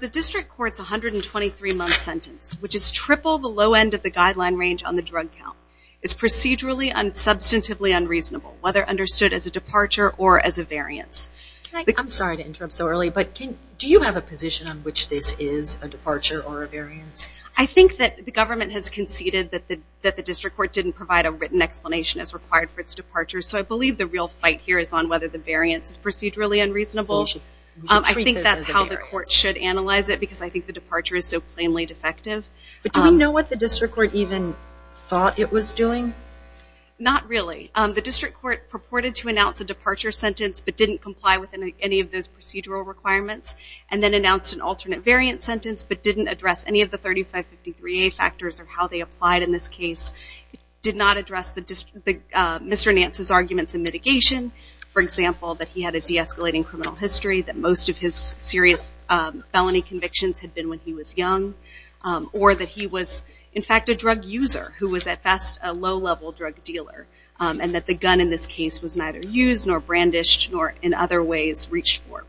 The District Court's 123-month sentence, which is triple the low end of the guideline range on the drug count, is procedurally and substantively unreasonable, whether understood as a departure or as a variance. I'm sorry to interrupt so early, but do you have a position on which this is a departure or a variance? I think that the government has conceded that the District Court didn't provide a written explanation as required for its departure, so I believe the real fight here is on whether the variance is procedurally unreasonable. I think that's how the court should analyze it, because I think the departure is so plainly defective. But do we know what the District Court even thought it was doing? Not really. The District Court purported to announce a departure sentence but didn't comply with any of those procedural requirements, and then announced an alternate variant sentence but didn't address any of the 3553A factors or how they applied in this case, did not address Mr. Nance's arguments in mitigation, for example, that he had a de-escalating criminal history, that most of his serious felony convictions had been when he was young, or that he was in fact a drug user who was at best a low-level drug dealer, and that the gun in this case was neither used nor brandished nor in other ways reached for.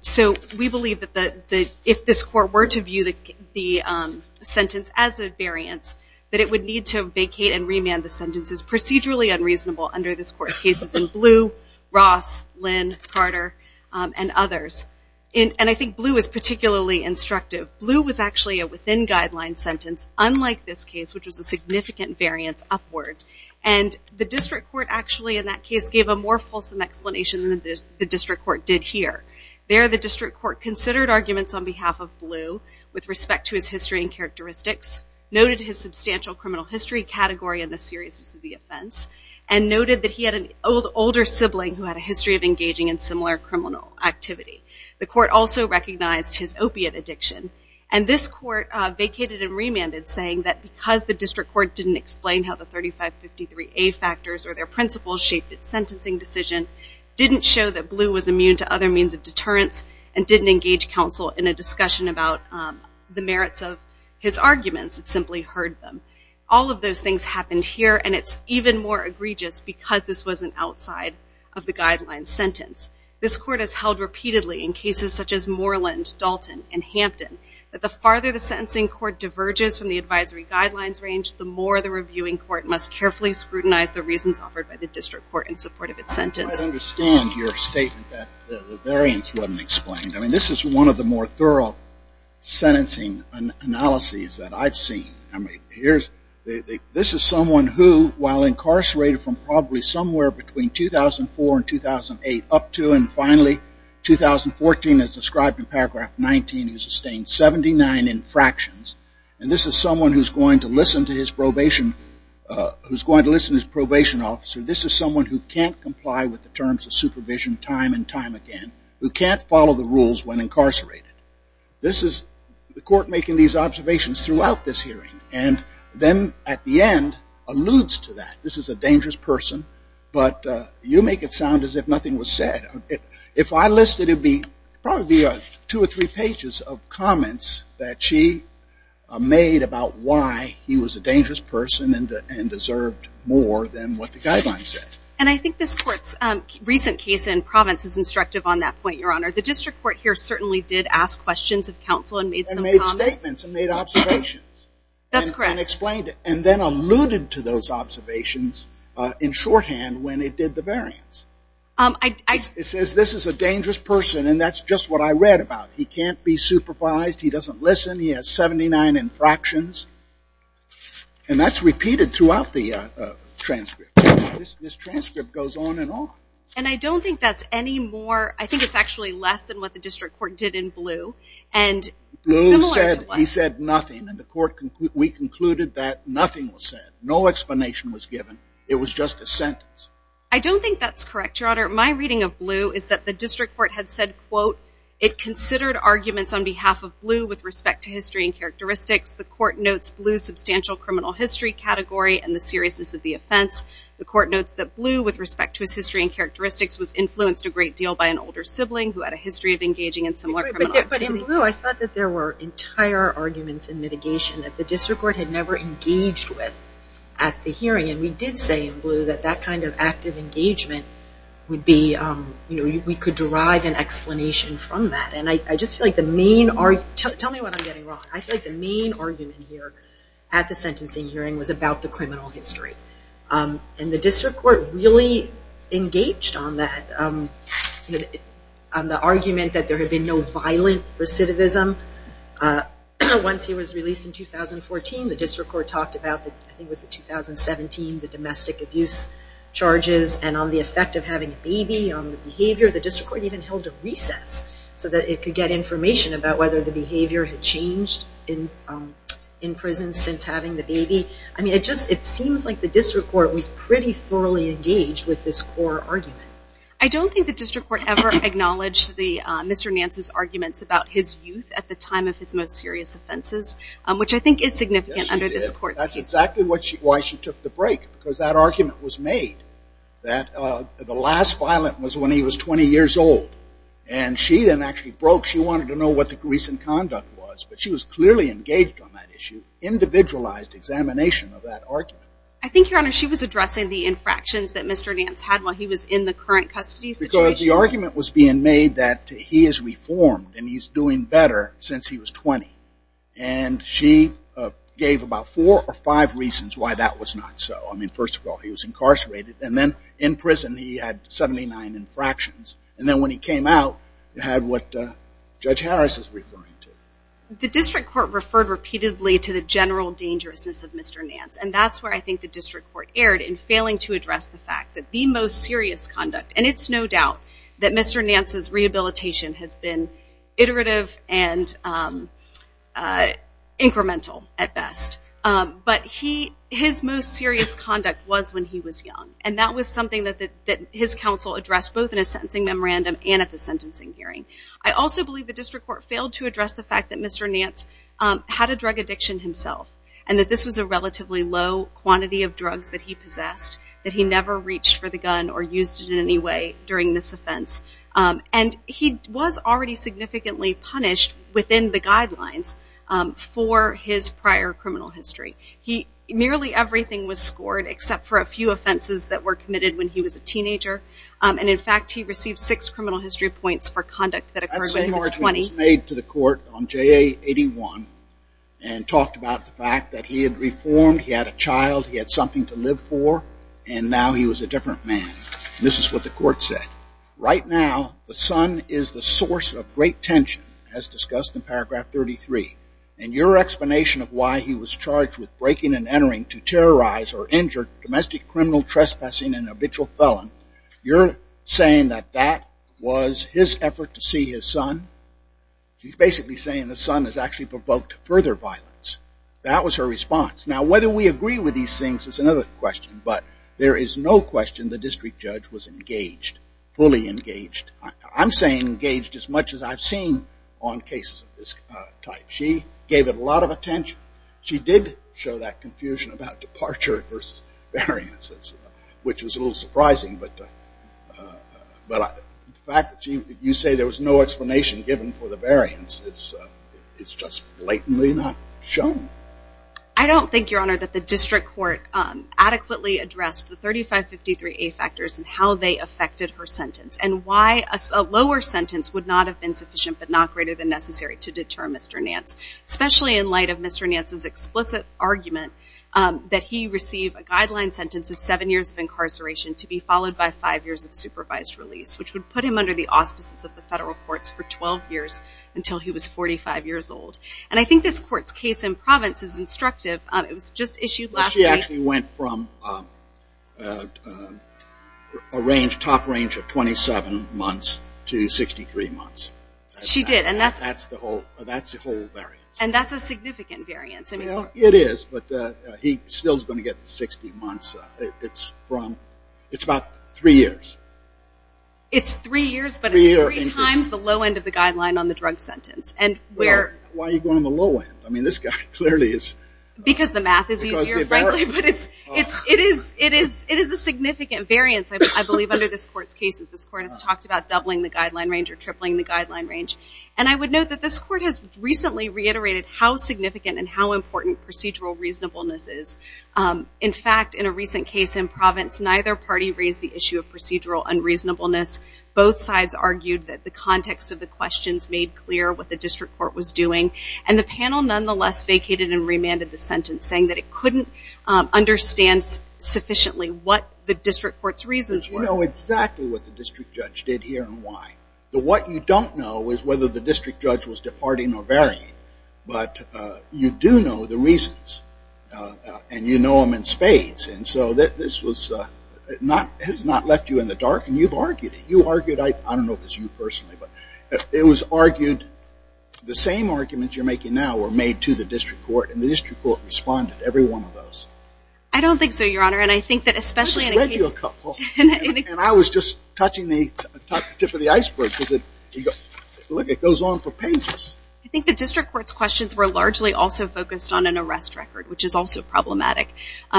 So we believe that if this court were to view the sentence as a variance, that it would need to vacate and remand the sentences procedurally unreasonable under this court's cases in Blue, Ross, Lynn, Carter, and others. And I think Blue is particularly instructive. Blue was actually a within-guideline sentence, unlike this case, which was a significant variance upward. And the District Court actually in that case gave a more fulsome explanation than the District Court did here. There, the District Court considered arguments on behalf of Blue with respect to his history and characteristics, noted his substantial criminal history category and the seriousness of the offense, and noted that he had an older sibling who had a history of engaging in similar criminal activity. The court also recognized his opiate addiction. And this court vacated and remanded, saying that because the District Court didn't explain how the 3553A factors or their principles shaped its sentencing decision, didn't show that Blue was immune to other means of deterrence, and didn't engage counsel in a discussion about the merits of his arguments, it simply heard them. All of those things happened here. And it's even more egregious because this was an outside-of-the-guidelines sentence. This court has held repeatedly in cases such as Moreland, Dalton, and Hampton, that the farther the sentencing court diverges from the advisory guidelines range, the more the reviewing court must carefully scrutinize the reasons offered by the District Court in support of its sentence. I understand your statement that the variance wasn't explained. I mean, this is one of the more thorough sentencing analyses that I've seen. This is someone who, while incarcerated from probably somewhere between 2004 and 2008, up to, and finally, 2014, as described in paragraph 19, who sustained 79 infractions. And this is someone who's going to listen to his probation officer. This is someone who can't comply with the terms of supervision time and time again, who can't follow the rules when incarcerated. This is the court making these observations throughout this hearing. And then, at the end, alludes to that. But you make it sound as if nothing was said. If I listed it, it would probably be two or three pages of comments that she made about why he was a dangerous person and deserved more than what the guidelines said. And I think this court's recent case in Providence is instructive on that point, Your Honor. The District Court here certainly did ask questions of counsel and made some comments. And made statements and made observations. That's correct. And explained it. And then alluded to those observations in shorthand when it did the variance. It says this is a dangerous person and that's just what I read about. He can't be supervised. He doesn't listen. He has 79 infractions. And that's repeated throughout the transcript. This transcript goes on and on. And I don't think that's any more, I think it's actually less than what the District Court did in Blue. And similar to what- Blue said nothing. We concluded that nothing was said. No explanation was given. It was just a sentence. I don't think that's correct, Your Honor. My reading of Blue is that the District Court had said, quote, it considered arguments on behalf of Blue with respect to history and characteristics. The court notes Blue's substantial criminal history category and the seriousness of the offense. The court notes that Blue, with respect to his history and characteristics, was influenced a great deal by an older sibling who had a history of engaging in similar criminal activities. In Blue, I thought that there were entire arguments in mitigation that the District Court had never engaged with at the hearing. And we did say in Blue that that kind of active engagement would be, you know, we could derive an explanation from that. And I just feel like the main- Tell me what I'm getting wrong. I feel like the main argument here at the sentencing hearing was about the criminal history. And the District Court really engaged on that, on the argument that there had been no violent recidivism. Once he was released in 2014, the District Court talked about, I think it was in 2017, the domestic abuse charges and on the effect of having a baby, on the behavior. The District Court even held a recess so that it could get information about whether the behavior had changed in prison since having the baby. I mean, it just, it seems like the District Court was pretty thoroughly engaged with this core argument. I don't think the District Court ever acknowledged Mr. Nance's arguments about his youth at the time of his most serious offenses, which I think is significant under this court's case. Yes, it is. That's exactly why she took the break, because that argument was made that the last violent was when he was 20 years old. And she then actually broke, she wanted to know what the recent conduct was, but she was clearly engaged on that issue, individualized examination of that argument. I think, Your Honor, she was addressing the infractions that Mr. Nance had while he was in the current custody situation. The argument was being made that he is reformed and he's doing better since he was 20. And she gave about four or five reasons why that was not so. I mean, first of all, he was incarcerated. And then in prison, he had 79 infractions. And then when he came out, he had what Judge Harris is referring to. The District Court referred repeatedly to the general dangerousness of Mr. Nance. And that's where I think the District Court erred in failing to address the fact that the most serious conduct, and it's no doubt that Mr. Nance's rehabilitation has been iterative and incremental at best, but his most serious conduct was when he was young. And that was something that his counsel addressed both in his sentencing memorandum and at the sentencing hearing. I also believe the District Court failed to address the fact that Mr. Nance had a drug addiction himself, and that this was a relatively low quantity of drugs that he possessed that he never reached for the gun or used it in any way during this offense. And he was already significantly punished within the guidelines for his prior criminal history. He, nearly everything was scored except for a few offenses that were committed when he was a teenager. And in fact, he received six criminal history points for conduct that occurred when he was 20. That's a charge that was made to the court on JA-81 and talked about the fact that he had reformed. He had a child. He had something to live for. And now he was a different man. This is what the court said. Right now, the son is the source of great tension, as discussed in paragraph 33. And your explanation of why he was charged with breaking and entering to terrorize or injure domestic criminal trespassing and habitual felon, you're saying that that was his effort to see his son? She's basically saying the son has actually provoked further violence. That was her response. Now, whether we agree with these things is another question. But there is no question the district judge was engaged, fully engaged. I'm saying engaged as much as I've seen on cases of this type. She gave it a lot of attention. She did show that confusion about departure versus variances, which was a little surprising. But the fact that you say there was no explanation given for the variances, it's just blatantly not shown. I don't think, Your Honor, that the district court adequately addressed the 3553A factors and how they affected her sentence and why a lower sentence would not have been sufficient but not greater than necessary to deter Mr. Nance, especially in light of Mr. Nance's explicit argument that he received a guideline sentence of seven years of incarceration to be followed by five years of supervised release, which would put him under the auspices of the federal courts for 12 years until he was 45 years old. And I think this court's case in Providence is instructive. It was just issued last week. Well, she actually went from a range, top range of 27 months to 63 months. She did. And that's the whole variance. And that's a significant variance. Well, it is, but he still is going to get the 60 months. It's about three years. It's three years, but it's three times the low end of the guideline on the drug sentence. Well, why are you going on the low end? I mean, this guy clearly is... Because the math is easier, frankly, but it is a significant variance, I believe, under this court's cases. This court has talked about doubling the guideline range or tripling the guideline range. And I would note that this court has recently reiterated how significant and how important procedural reasonableness is. In fact, in a recent case in Providence, neither party raised the issue of procedural unreasonableness. Both sides argued that the context of the questions made clear what the district court was doing. And the panel, nonetheless, vacated and remanded the sentence, saying that it couldn't understand sufficiently what the district court's reasons were. Because you know exactly what the district judge did here and why. What you don't know is whether the district judge was departing or varying. And you know them in spades. And so this has not left you in the dark. And you've argued it. You argued it. I don't know if it's you personally, but it was argued. The same arguments you're making now were made to the district court, and the district court responded to every one of those. I don't think so, Your Honor. And I think that especially in a case... I just read you a couple. And I was just touching the tip of the iceberg because, look, it goes on for pages. I think the district court's questions were largely also focused on an arrest record, which is also problematic.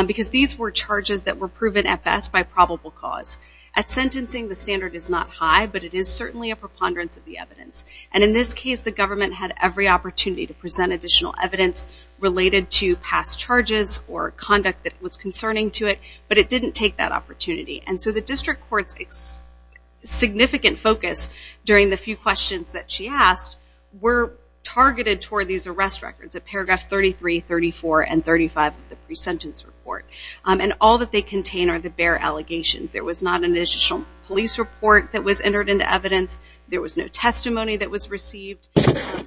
Because these were charges that were proven at best by probable cause. At sentencing, the standard is not high, but it is certainly a preponderance of the evidence. And in this case, the government had every opportunity to present additional evidence related to past charges or conduct that was concerning to it. But it didn't take that opportunity. And so the district court's significant focus during the few questions that she asked were targeted toward these arrest records at paragraphs 33, 34, and 35 of the pre-sentence report. And all that they contain are the bare allegations. There was not an additional police report that was entered into evidence. There was no testimony that was received.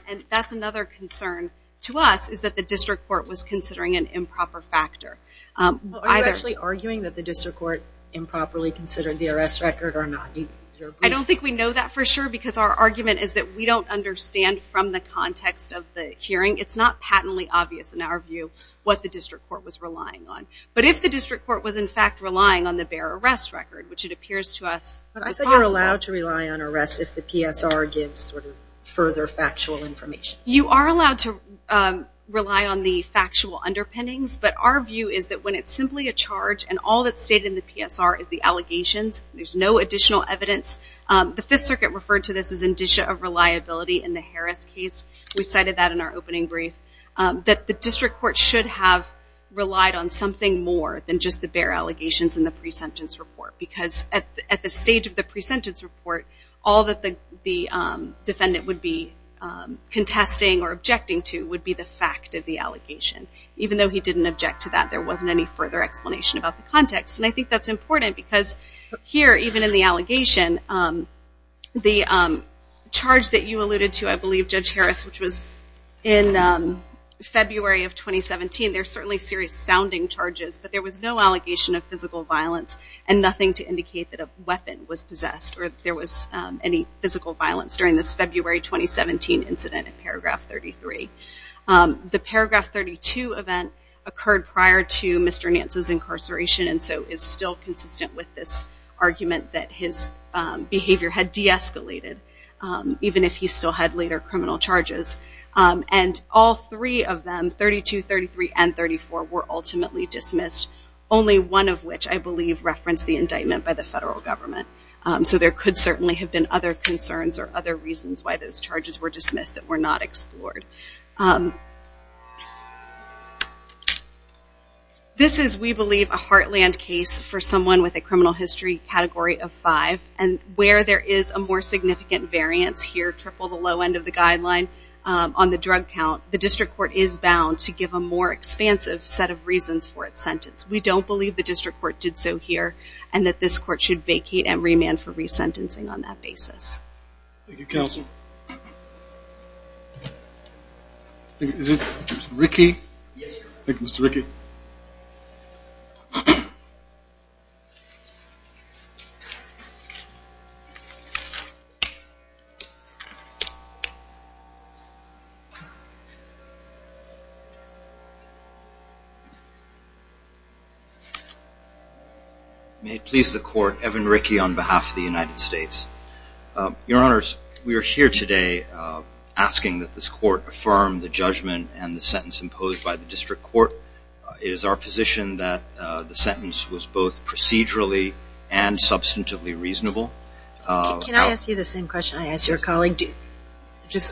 And that's another concern to us, is that the district court was considering an improper factor. Are you actually arguing that the district court improperly considered the arrest record or not? I don't think we know that for sure because our argument is that we don't understand from the context of the hearing. It's not patently obvious in our view what the district court was relying on. But if the district court was, in fact, relying on the bare arrest record, which it appears to us is possible. But I said you're allowed to rely on arrests if the PSR gives further factual information. You are allowed to rely on the factual underpinnings, but our view is that when it's simply a charge and all that's stated in the PSR is the allegations, there's no additional evidence. The Fifth Circuit referred to this as indicia of reliability in the Harris case. We cited that in our opening brief, that the district court should have relied on something more than just the bare allegations in the pre-sentence report. Because at the stage of the pre-sentence report, all that the defendant would be contesting or objecting to would be the fact of the allegation. Even though he didn't object to that, there wasn't any further explanation about the context. And I think that's important because here, even in the allegation, the charge that you alluded to, I believe, Judge Harris, which was in February of 2017, they're certainly serious sounding charges, but there was no allegation of physical violence and nothing to indicate that a weapon was possessed or that there was any physical violence during this February 2017 incident in paragraph 33. The paragraph 32 event occurred prior to Mr. Nance's incarceration and so is still consistent with this argument that his behavior had de-escalated, even if he still had later criminal charges. And all three of them, 32, 33, and 34, were ultimately dismissed. Only one of which, I believe, referenced the indictment by the federal government. So there could certainly have been other concerns or other reasons why those charges were dismissed that were not explored. This is, we believe, a heartland case for someone with a criminal history category of five and where there is a more significant variance here, triple the low end of the guideline on the drug count, the district court is bound to give a more expansive set of reasons for its sentence. We don't believe the district court did so here and that this court should vacate and remand for resentencing on that basis. Thank you, counsel. Is it Ricky? Yes, sir. Thank you, Mr. Ricky. May it please the court, Evan Rickey on behalf of the United States. Your honors, we are here today asking that this court affirm the judgment and the sentence imposed by the district court. It is our position that the sentence was both procedurally and substantively reasonable. Can I ask you the same question I asked your colleague? Is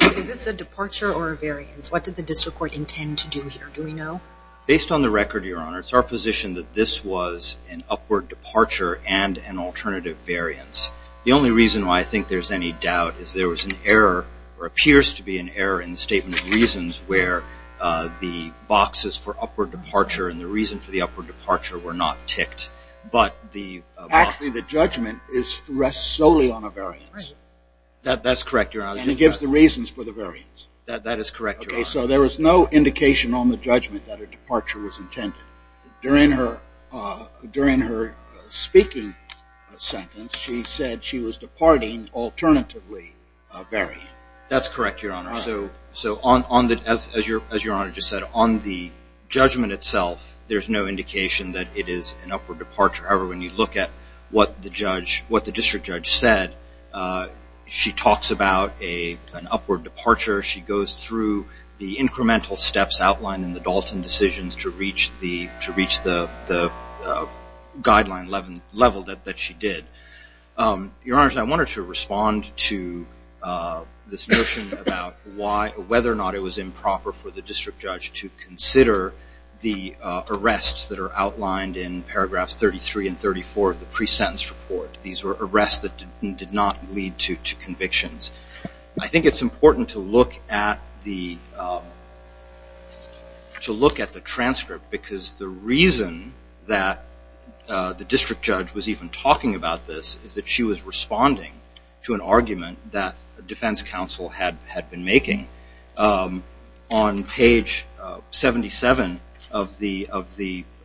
this a departure or a variance? What did the district court intend to do here? Do we know? Based on the record, your honors, our position that this was an upward departure and an alternative variance. The only reason why I think there's any doubt is there was an error or appears to be an error in the statement of reasons where the boxes for upward departure and the reason for the upward departure were not ticked. But the box Actually, the judgment rests solely on a variance. That's correct, your honors. And it gives the reasons for the variance. That is correct, your honors. Okay, so there was no indication on the judgment that a departure was intended. During her speaking sentence, she said she was departing alternatively a variance. That's correct, your honors. So as your honor just said, on the judgment itself, there's no indication that it is an upward departure. However, when you look at what the district judge said, she talks about an upward departure. She goes through the incremental steps outlined in the Dalton decisions to reach the guideline level that she did. Your honors, I wanted to respond to this notion about whether or not it was improper for the district judge to consider the arrests that are outlined in paragraphs 33 and 34 of the pre-sentence report. These were arrests that did not lead to convictions. I think it's important to look at the transcript because the reason that the district judge was even talking about this is that she was responding to an argument that the defense counsel had been making. On page 77 of the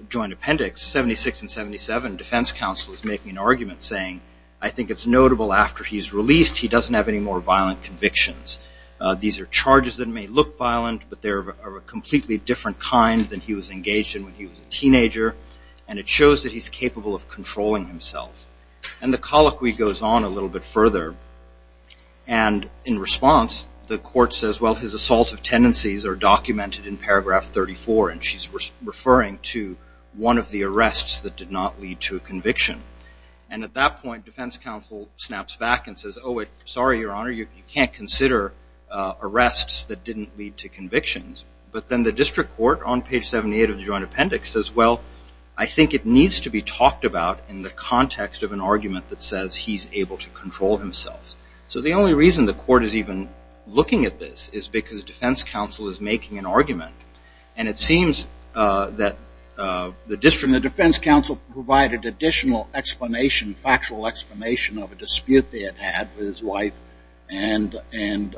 joint appendix, 76 and 77, defense counsel is making an argument saying, I think it's notable after he's released, he doesn't have any more violent convictions. These are charges that may look violent, but they're of a completely different kind than he was engaged in when he was a teenager. And it shows that he's capable of controlling himself. And the colloquy goes on a little bit further. And in response, the court says, well, his assault of tendencies are documented in paragraph 34. And she's referring to one of the arrests that did not lead to a conviction. And at that point, defense counsel snaps back and says, oh, sorry, your honor, you can't consider arrests that didn't lead to convictions. But then the district court on page 78 of the joint appendix says, well, I think it needs to be talked about in the context of an argument that says he's able to control himself. So the only reason the court is even looking at this is because defense counsel is making an argument. And it seems that the district defense counsel provided additional explanation, factual explanation of a dispute they had had with his wife and in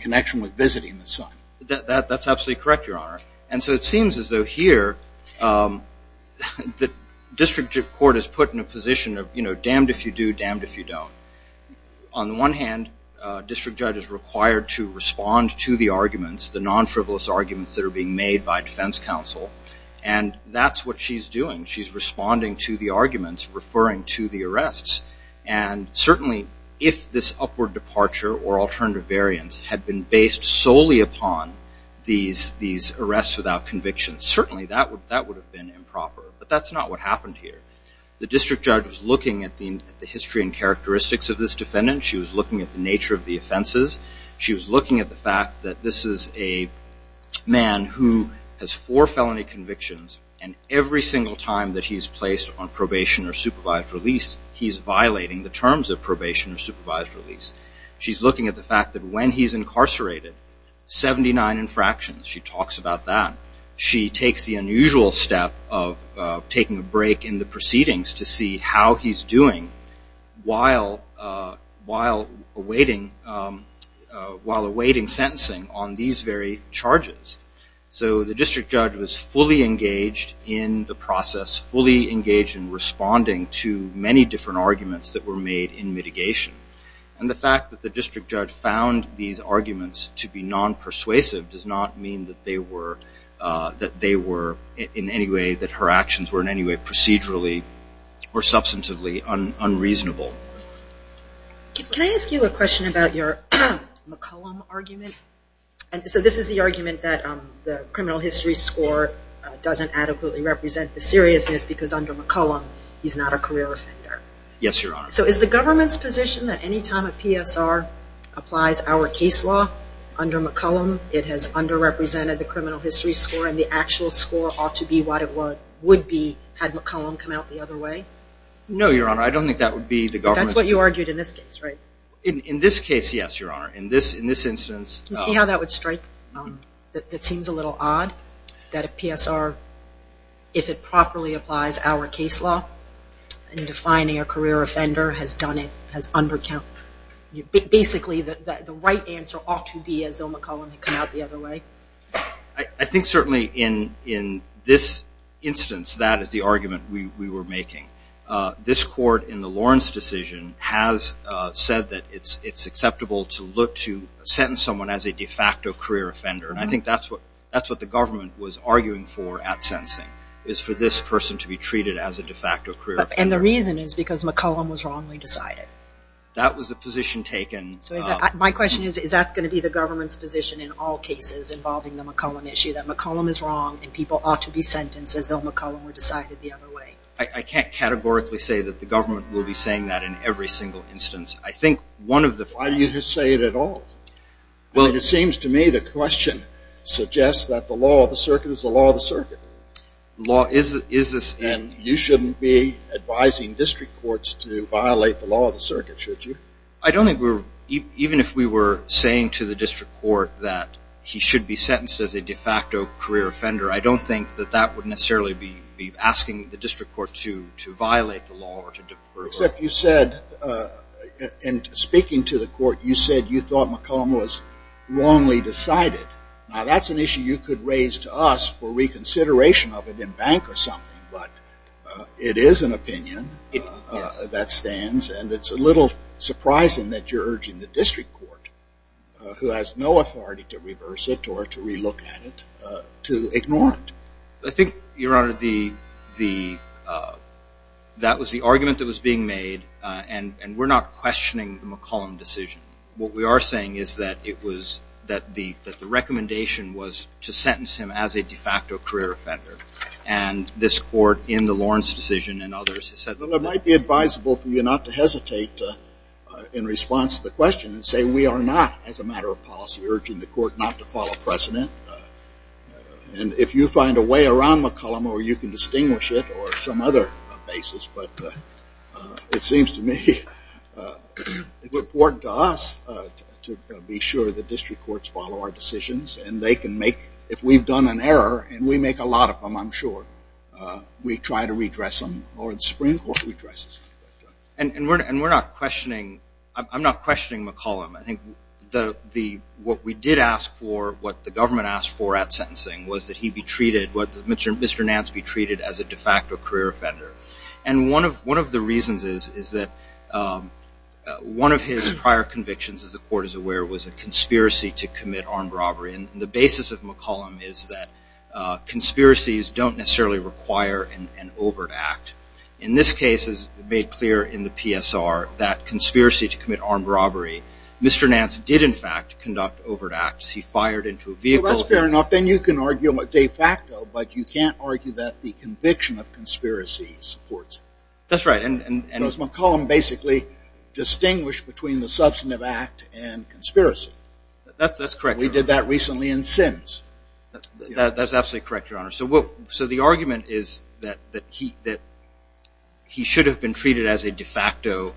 connection with visiting the son. That's absolutely correct, your honor. And so it seems as though here the district court is put in a position of, you know, damned if you do, damned if you don't. On the one hand, district judge is required to respond to the arguments, the non-frivolous arguments that are being made by defense counsel. And that's what she's doing. She's responding to the arguments, referring to the arrests. And certainly if this upward departure or alternative variance had been based solely upon these arrests without convictions, certainly that would have been improper. But that's not what happened here. The district judge was looking at the history and characteristics of this defendant. She was looking at the nature of the offenses. She was looking at the fact that this is a man who has four felony convictions and every single time that he's placed on probation or supervised release, he's violating the terms of probation or supervised release. She's looking at the fact that when he's incarcerated, 79 infractions. She talks about that. She takes the unusual step of taking a break in the proceedings to see how he's doing while awaiting sentencing on these very charges. So the district judge was fully engaged in the process, fully engaged in responding to many different arguments that were made in mitigation. And the fact that the district judge found these arguments to be non-persuasive does not mean that they were in any way, that her actions were in any way procedurally or substantively unreasonable. Can I ask you a question about your McCollum argument? So this is the argument that the criminal history score doesn't adequately represent the seriousness because under McCollum, he's not a career offender. Yes, Your Honor. So is the government's position that any time a PSR applies our case law under McCollum, it has underrepresented the criminal history score and the actual score ought to be what it would be had McCollum come out the other way? No, Your Honor. I don't think that would be the government's view. That's what you argued in this case, right? In this case, yes, Your Honor. In this instance... Do you see how that would strike, that it seems a little odd that a PSR, if it properly applies our case law in defining a career offender, has done it, has undercount, basically the right answer ought to be as though McCollum had come out the other way? I think certainly in this instance, that is the argument we were making. This court in the Lawrence decision has said that it's acceptable to look to sentence someone as a de facto career offender. I think that's what the government was arguing for at sensing, is for this person to be treated as a de facto career offender. And the reason is because McCollum was wrongly decided? That was the position taken. My question is, is that going to be the government's position in all cases involving the McCollum issue, that McCollum is wrong and people ought to be sentenced as though McCollum were decided the other way? I can't categorically say that the government will be saying that in every single instance. I think one of the... Why do you say it at all? It seems to me the question suggests that the law of the circuit is the law of the circuit. Law is the... And you shouldn't be advising district courts to violate the law of the circuit, should you? I don't think we're... Even if we were saying to the district court that he should be sentenced as a de facto career offender, I don't think that that would necessarily be asking the district court to violate the law or to... Except you said, in speaking to the court, you said you thought McCollum was wrongly decided. Now, that's an issue you could raise to us for reconsideration of it in bank or something, but it is an opinion that stands. And it's a little surprising that you're urging the district court, who has no authority to ignore it. I think, Your Honor, that was the argument that was being made, and we're not questioning the McCollum decision. What we are saying is that it was... That the recommendation was to sentence him as a de facto career offender. And this court, in the Lawrence decision and others, has said... Well, it might be advisable for you not to hesitate in response to the question and say we are not, as a matter of policy, urging the court not to follow precedent. And if you find a way around McCollum or you can distinguish it or some other basis, but it seems to me it's important to us to be sure the district courts follow our decisions and they can make... If we've done an error, and we make a lot of them, I'm sure, we try to redress them or the Supreme Court redresses them. And we're not questioning... I'm not questioning McCollum. I think what we did ask for, what the government asked for at sentencing, was that he be treated, that Mr. Nance be treated as a de facto career offender. And one of the reasons is that one of his prior convictions, as the court is aware, was a conspiracy to commit armed robbery. And the basis of McCollum is that conspiracies don't necessarily require an overt act. In this case, as made clear in the PSR, that conspiracy to commit armed robbery, Mr. Nance did, in fact, conduct overt acts. He fired into a vehicle. Well, that's fair enough. Then you can argue a de facto, but you can't argue that the conviction of conspiracy supports it. That's right. Because McCollum basically distinguished between the substantive act and conspiracy. That's correct, Your Honor. We did that recently in Sims. That's absolutely correct, Your Honor. So the argument is that he should have been treated as a de facto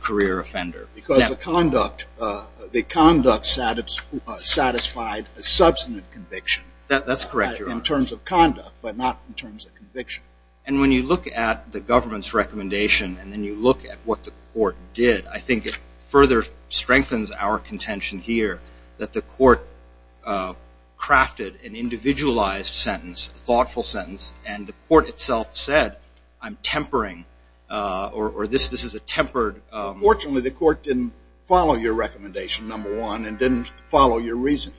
career offender. Because the conduct satisfied a substantive conviction. That's correct, Your Honor. In terms of conduct, but not in terms of conviction. And when you look at the government's recommendation, and then you look at what the court did, I think it further strengthens our contention here that the court crafted an individualized sentence, a thoughtful sentence, and the court itself said, I'm tempering, or this is a tempered Fortunately, the court didn't follow your recommendation, number one, and didn't follow your reasoning.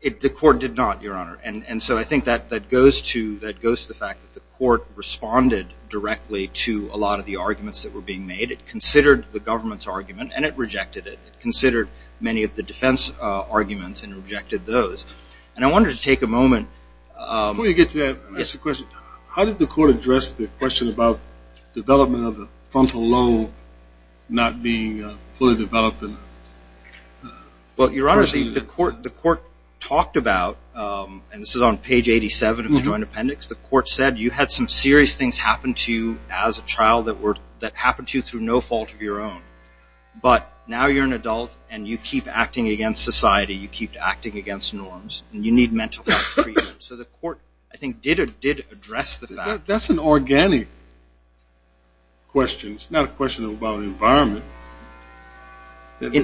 The court did not, Your Honor. And so I think that goes to the fact that the court responded directly to a lot of the arguments that were being made. It considered the government's argument, and it rejected it. It considered many of the defense arguments and rejected those. And I wanted to take a moment. Before you get to that, I have a question. How did the court address the question about development of a frontal lobe not being fully developed? Well, Your Honor, the court talked about, and this is on page 87 of the Joint Appendix, the court said you had some serious things happen to you as a child that happened to you through no fault of your own. But now you're an adult, and you keep acting against society. You keep acting against norms, and you need mental health treatment. So the court, I think, did address the fact. That's an organic question. It's not a question about environment.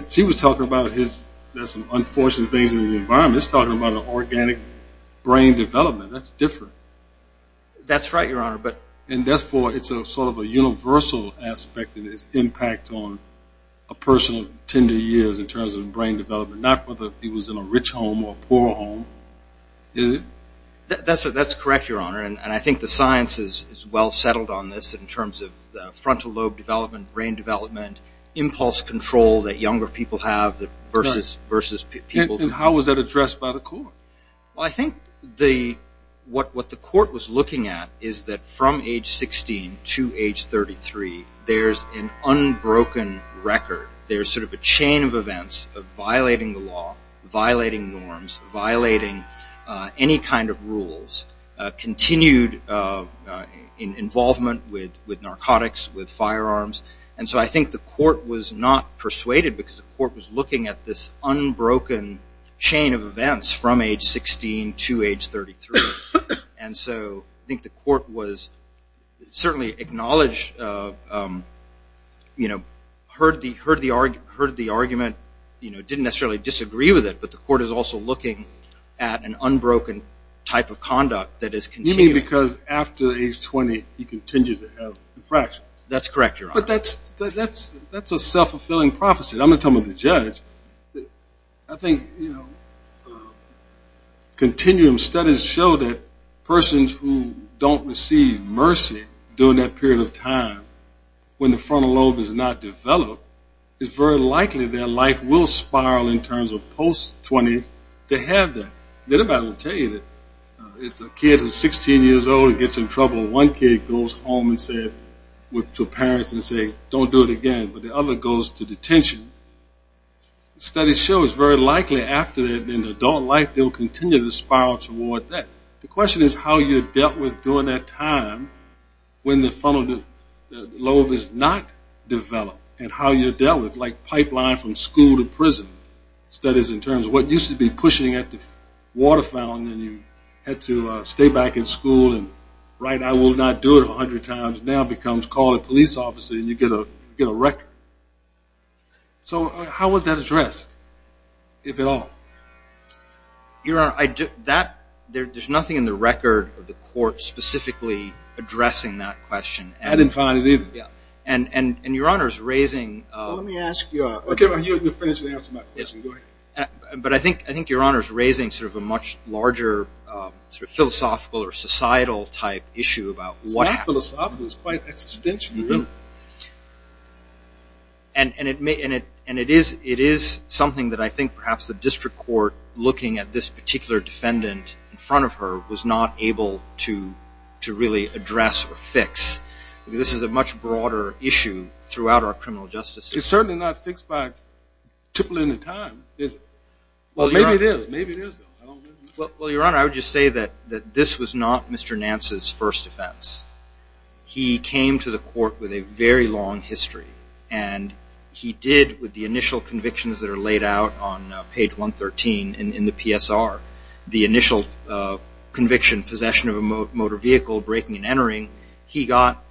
She was talking about there's some unfortunate things in the environment. It's talking about an organic brain development. That's different. That's right, Your Honor. And therefore, it's sort of a universal aspect in its impact on a person's tender years in terms of brain development, not whether he was in a rich home or a poor home. Is it? That's correct, Your Honor. And I think the science is well-settled on this in terms of frontal lobe development, brain development, impulse control that younger people have versus people... And how was that addressed by the court? Well, I think what the court was looking at is that from age 16 to age 33, there's an unbroken record. There's sort of a chain of events of violating the law, violating norms, violating any kind of rules, continued involvement with narcotics, with firearms. And so I think the court was not persuaded because the court was looking at this unbroken chain of events from age 16 to age 33. And so I think the court was certainly acknowledged, you know, heard the argument, you know, didn't necessarily disagree with it, but the court is also looking at an unbroken type of conduct that is continuing. You mean because after age 20, he continues to have infractions? That's correct, Your Honor. But that's a self-fulfilling prophecy. I'm not talking about the judge. I think, you know, continuum studies show that persons who don't receive mercy during that period of time when the frontal lobe is not developed, it's very likely their life will spiral in terms of post-20s to have that. Does anybody ever tell you that if a kid who's 16 years old gets in trouble, one kid goes home and says, to parents, and says, don't do it again, but the other goes to detention, studies show it's very likely after they're in adult life, they'll continue to spiral toward that. The question is how you're dealt with during that time when the frontal lobe is not developed and how you're dealt with, like pipeline from school to prison, studies in terms of what used to be pushing at the water fountain and you had to stay back in school and write I will not do it 100 times now becomes call a police officer and you get a record. So how was that addressed, if at all? Your Honor, there's nothing in the record of the court specifically addressing that question. I didn't find it either. And Your Honor's raising... Well, let me ask you... Okay, you can finish answering my question, go ahead. But I think Your Honor's raising sort of a much larger sort of philosophical or societal type issue about what happened. It's not philosophical, it's quite existential, really. And it is something that I think perhaps the district court looking at this particular defendant in front of her was not able to really address or fix, because this is a much broader issue throughout our criminal justice system. It's certainly not fixed by tripling the time, is it? Well, maybe it is, maybe it is, though, I don't know. Well, Your Honor, I would just say that this was not Mr. Nance's first offense. He came to the court with a very long history and he did, with the initial convictions that are laid out on page 113 in the PSR, the initial conviction, possession of a motor vehicle, breaking and entering, he got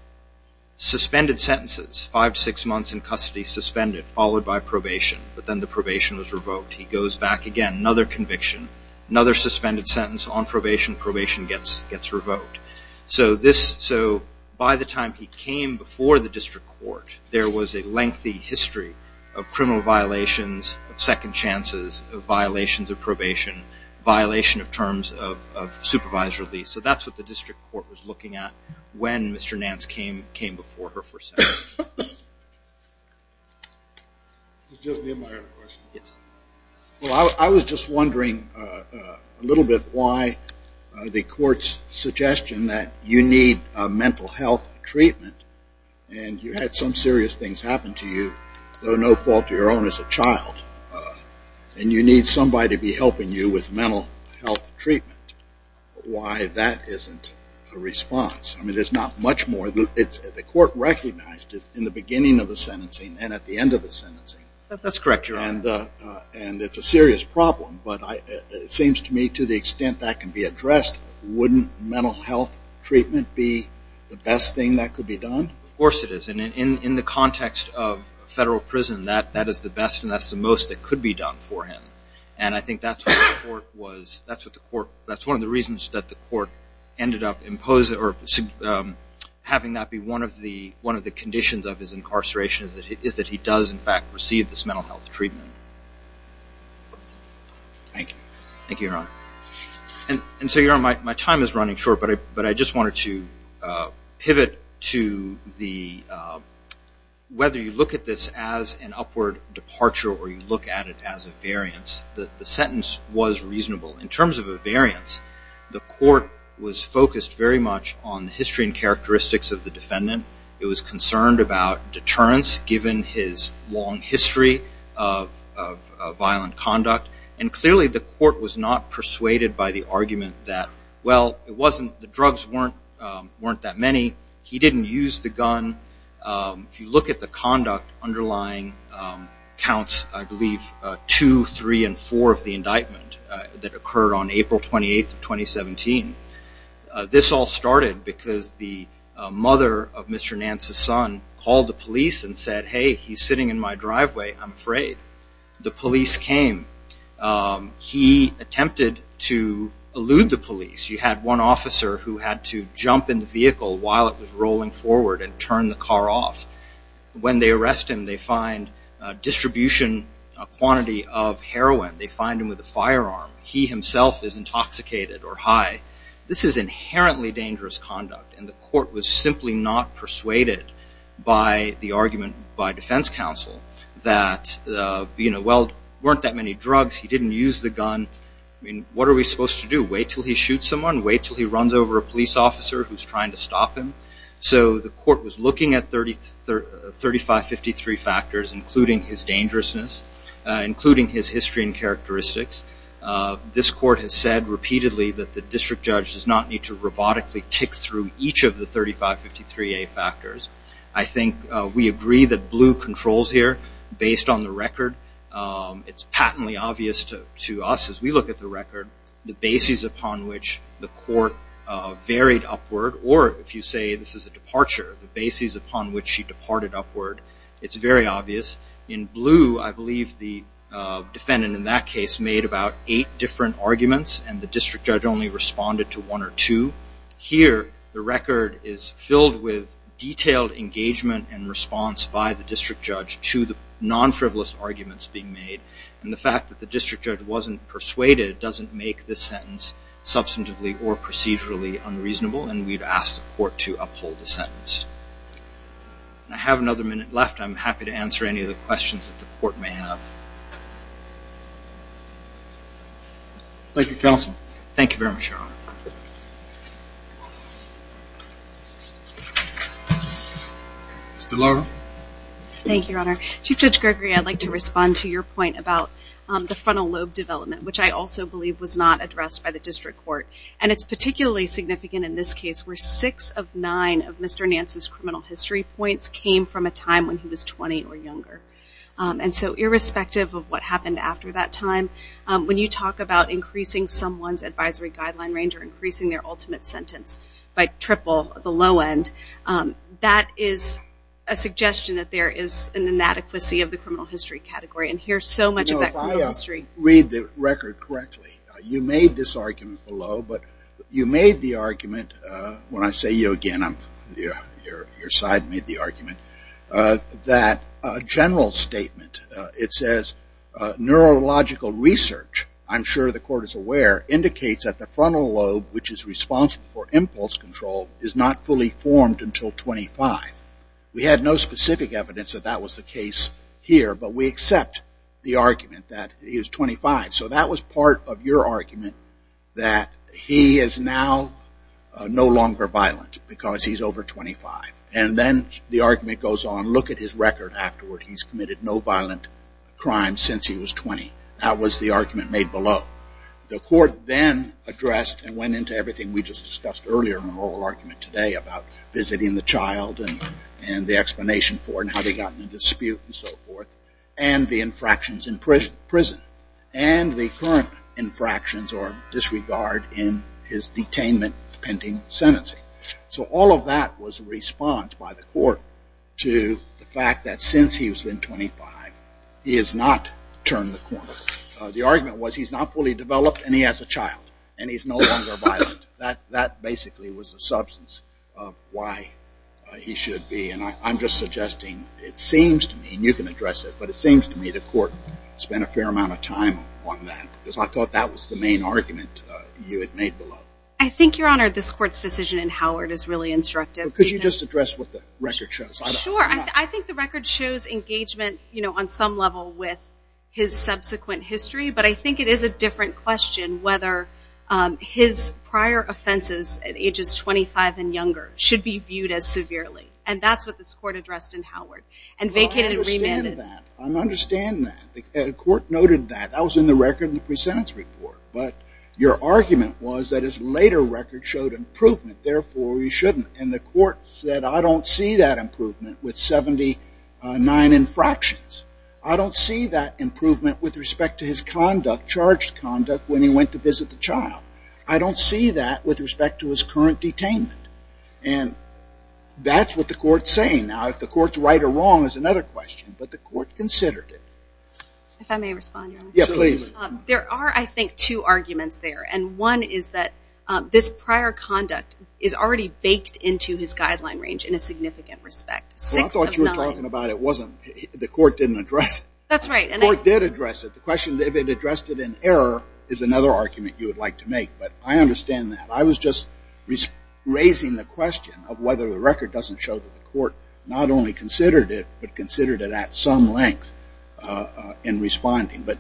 suspended sentences, five to six months in custody suspended, followed by probation, but then the probation was revoked. He goes back again, another conviction, another suspended sentence on probation, probation gets revoked. So this, so by the time he came before the district court, there was a lengthy history of criminal violations, of second chances, of violations of probation, violation of terms of supervised release. So that's what the district court was looking at when Mr. Nance came before her for second chances. This is just the end of my other question. Yes. Well, I was just wondering a little bit why the court's suggestion that you need a mental health treatment and you had some serious things happen to you, though no fault of your own as a child, and you need somebody to be helping you with mental health treatment. Why that isn't a response, I mean, there's not much more, the court recognized it in the beginning of the sentencing and at the end of the sentencing. That's correct, Your Honor. And it's a serious problem, but it seems to me to the extent that can be addressed, wouldn't mental health treatment be the best thing that could be done? Of course it is. And in the context of federal prison, that is the best and that's the most that could be done for him. And I think that's what the court was, that's what the court, that's one of the reasons that the court ended up imposing or having that be one of the conditions of his incarceration is that he does, in fact, receive this mental health treatment. Thank you. Thank you, Your Honor. And so, Your Honor, my time is running short, but I just wanted to pivot to the, whether you look at this as an upward departure or you look at it as a variance, the sentence was reasonable. In terms of a variance, the court was focused very much on the history and characteristics of the defendant. It was concerned about deterrence, given his long history of violent conduct. And clearly the court was not persuaded by the argument that, well, it wasn't, the drugs weren't that many, he didn't use the gun. If you look at the conduct underlying counts, I believe, two, three, and four of the indictment that occurred on April 28th of 2017, this all started because the mother of Mr. Nance's son called the police and said, hey, he's sitting in my driveway, I'm afraid. The police came. He attempted to elude the police. You had one officer who had to jump in the vehicle while it was rolling forward and turn the car off. When they arrest him, they find a distribution, a quantity of heroin. They find him with a firearm. He himself is intoxicated or high. This is inherently dangerous conduct and the court was simply not persuaded by the argument by defense counsel that, well, there weren't that many drugs, he didn't use the gun, what are we supposed to do? Wait until he shoots someone? Wait until he runs over a police officer who's trying to stop him? So the court was looking at 35, 53 factors including his dangerousness, including his history and characteristics. This court has said repeatedly that the district judge does not need to robotically tick through each of the 35, 53A factors. I think we agree that Blue controls here based on the record. It's patently obvious to us as we look at the record, the bases upon which the court varied upward or if you say this is a departure, the bases upon which she departed upward, it's very obvious. In Blue, I believe the defendant in that case made about eight different arguments and the district judge only responded to one or two. Here the record is filled with detailed engagement and response by the district judge to the non-frivolous arguments being made and the fact that the district judge wasn't persuaded doesn't make this sentence substantively or procedurally unreasonable and we've asked the court to uphold the sentence. I have another minute left. I'm happy to answer any of the questions that the court may have. Thank you, Counsel. Thank you very much, Your Honor. Ms. DeLauro. Thank you, Your Honor. Chief Judge Gregory, I'd like to respond to your point about the frontal lobe development which I also believe was not addressed by the district court and it's particularly significant in this case where six of nine of Mr. Nance's criminal history points came from a time when he was 20 or younger. And so irrespective of what happened after that time, when you talk about increasing someone's advisory guideline range or increasing their ultimate sentence by triple, the low end, that is a suggestion that there is an inadequacy of the criminal history category and here's so much of that criminal history. No, if I read the record correctly, you made this argument below, but you made the argument when I say you again, your side made the argument, that a general statement, it says, neurological research, I'm sure the court is aware, indicates that the frontal lobe which is responsible for impulse control is not fully formed until 25. We had no specific evidence that that was the case here, but we accept the argument that he was 25. So that was part of your argument that he is now no longer violent because he's over 25. And then the argument goes on, look at his record afterward, he's committed no violent crime since he was 20. That was the argument made below. The court then addressed and went into everything we just discussed earlier in the oral argument today about visiting the child and the explanation for it and how they got into dispute and so on. And the current infractions or disregard in his detainment pending sentencing. So all of that was a response by the court to the fact that since he was 25, he has not turned the corner. The argument was he's not fully developed and he has a child and he's no longer violent. That basically was the substance of why he should be and I'm just suggesting it seems to me, and you can address it, but it seems to me the court spent a fair amount of time on that because I thought that was the main argument you had made below. I think, Your Honor, this court's decision in Howard is really instructive. Could you just address what the record shows? Sure. I think the record shows engagement on some level with his subsequent history, but I think it is a different question whether his prior offenses at ages 25 and younger should be viewed as severely. And that's what this court addressed in Howard. And vacated and remanded. I understand that. I understand that. The court noted that. That was in the record in the pre-sentence report, but your argument was that his later record showed improvement, therefore he shouldn't. And the court said, I don't see that improvement with 79 infractions. I don't see that improvement with respect to his conduct, charged conduct, when he went to visit the child. I don't see that with respect to his current detainment. And that's what the court's saying. Now, if the court's right or wrong is another question, but the court considered it. If I may respond, Your Honor. Yeah, please. There are, I think, two arguments there. And one is that this prior conduct is already baked into his guideline range in a significant respect. Well, I thought you were talking about it wasn't. The court didn't address it. That's right. The court did address it. The question if it addressed it in error is another argument you would like to make. But I understand that. I was just raising the question of whether the record doesn't show that the court not only considered it, but considered it at some length in responding. But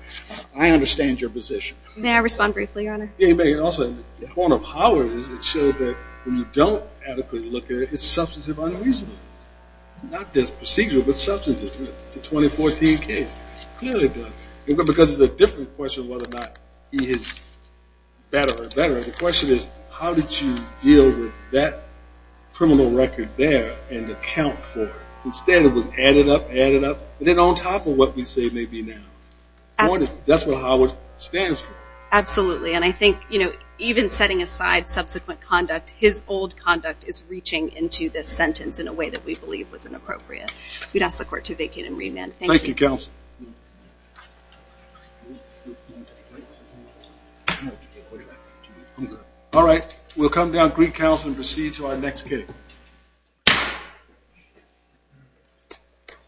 I understand your position. May I respond briefly, Your Honor? Yeah, you may. And also, the point of Howard is it showed that when you don't adequately look at it, it's substantive unreasonableness. Not just procedural, but substantive. The 2014 case clearly does. Because it's a different question of whether or not he is better or better. The question is, how did you deal with that criminal record there and account for it? Instead, it was added up, added up, and then on top of what we say may be now. That's what Howard stands for. Absolutely. And I think even setting aside subsequent conduct, his old conduct is reaching into this sentence in a way that we believe was inappropriate. We'd ask the court to vacate and remand. Thank you. Thank you, Counsel. All right, we'll come down, greet Counsel, and proceed to our next hearing.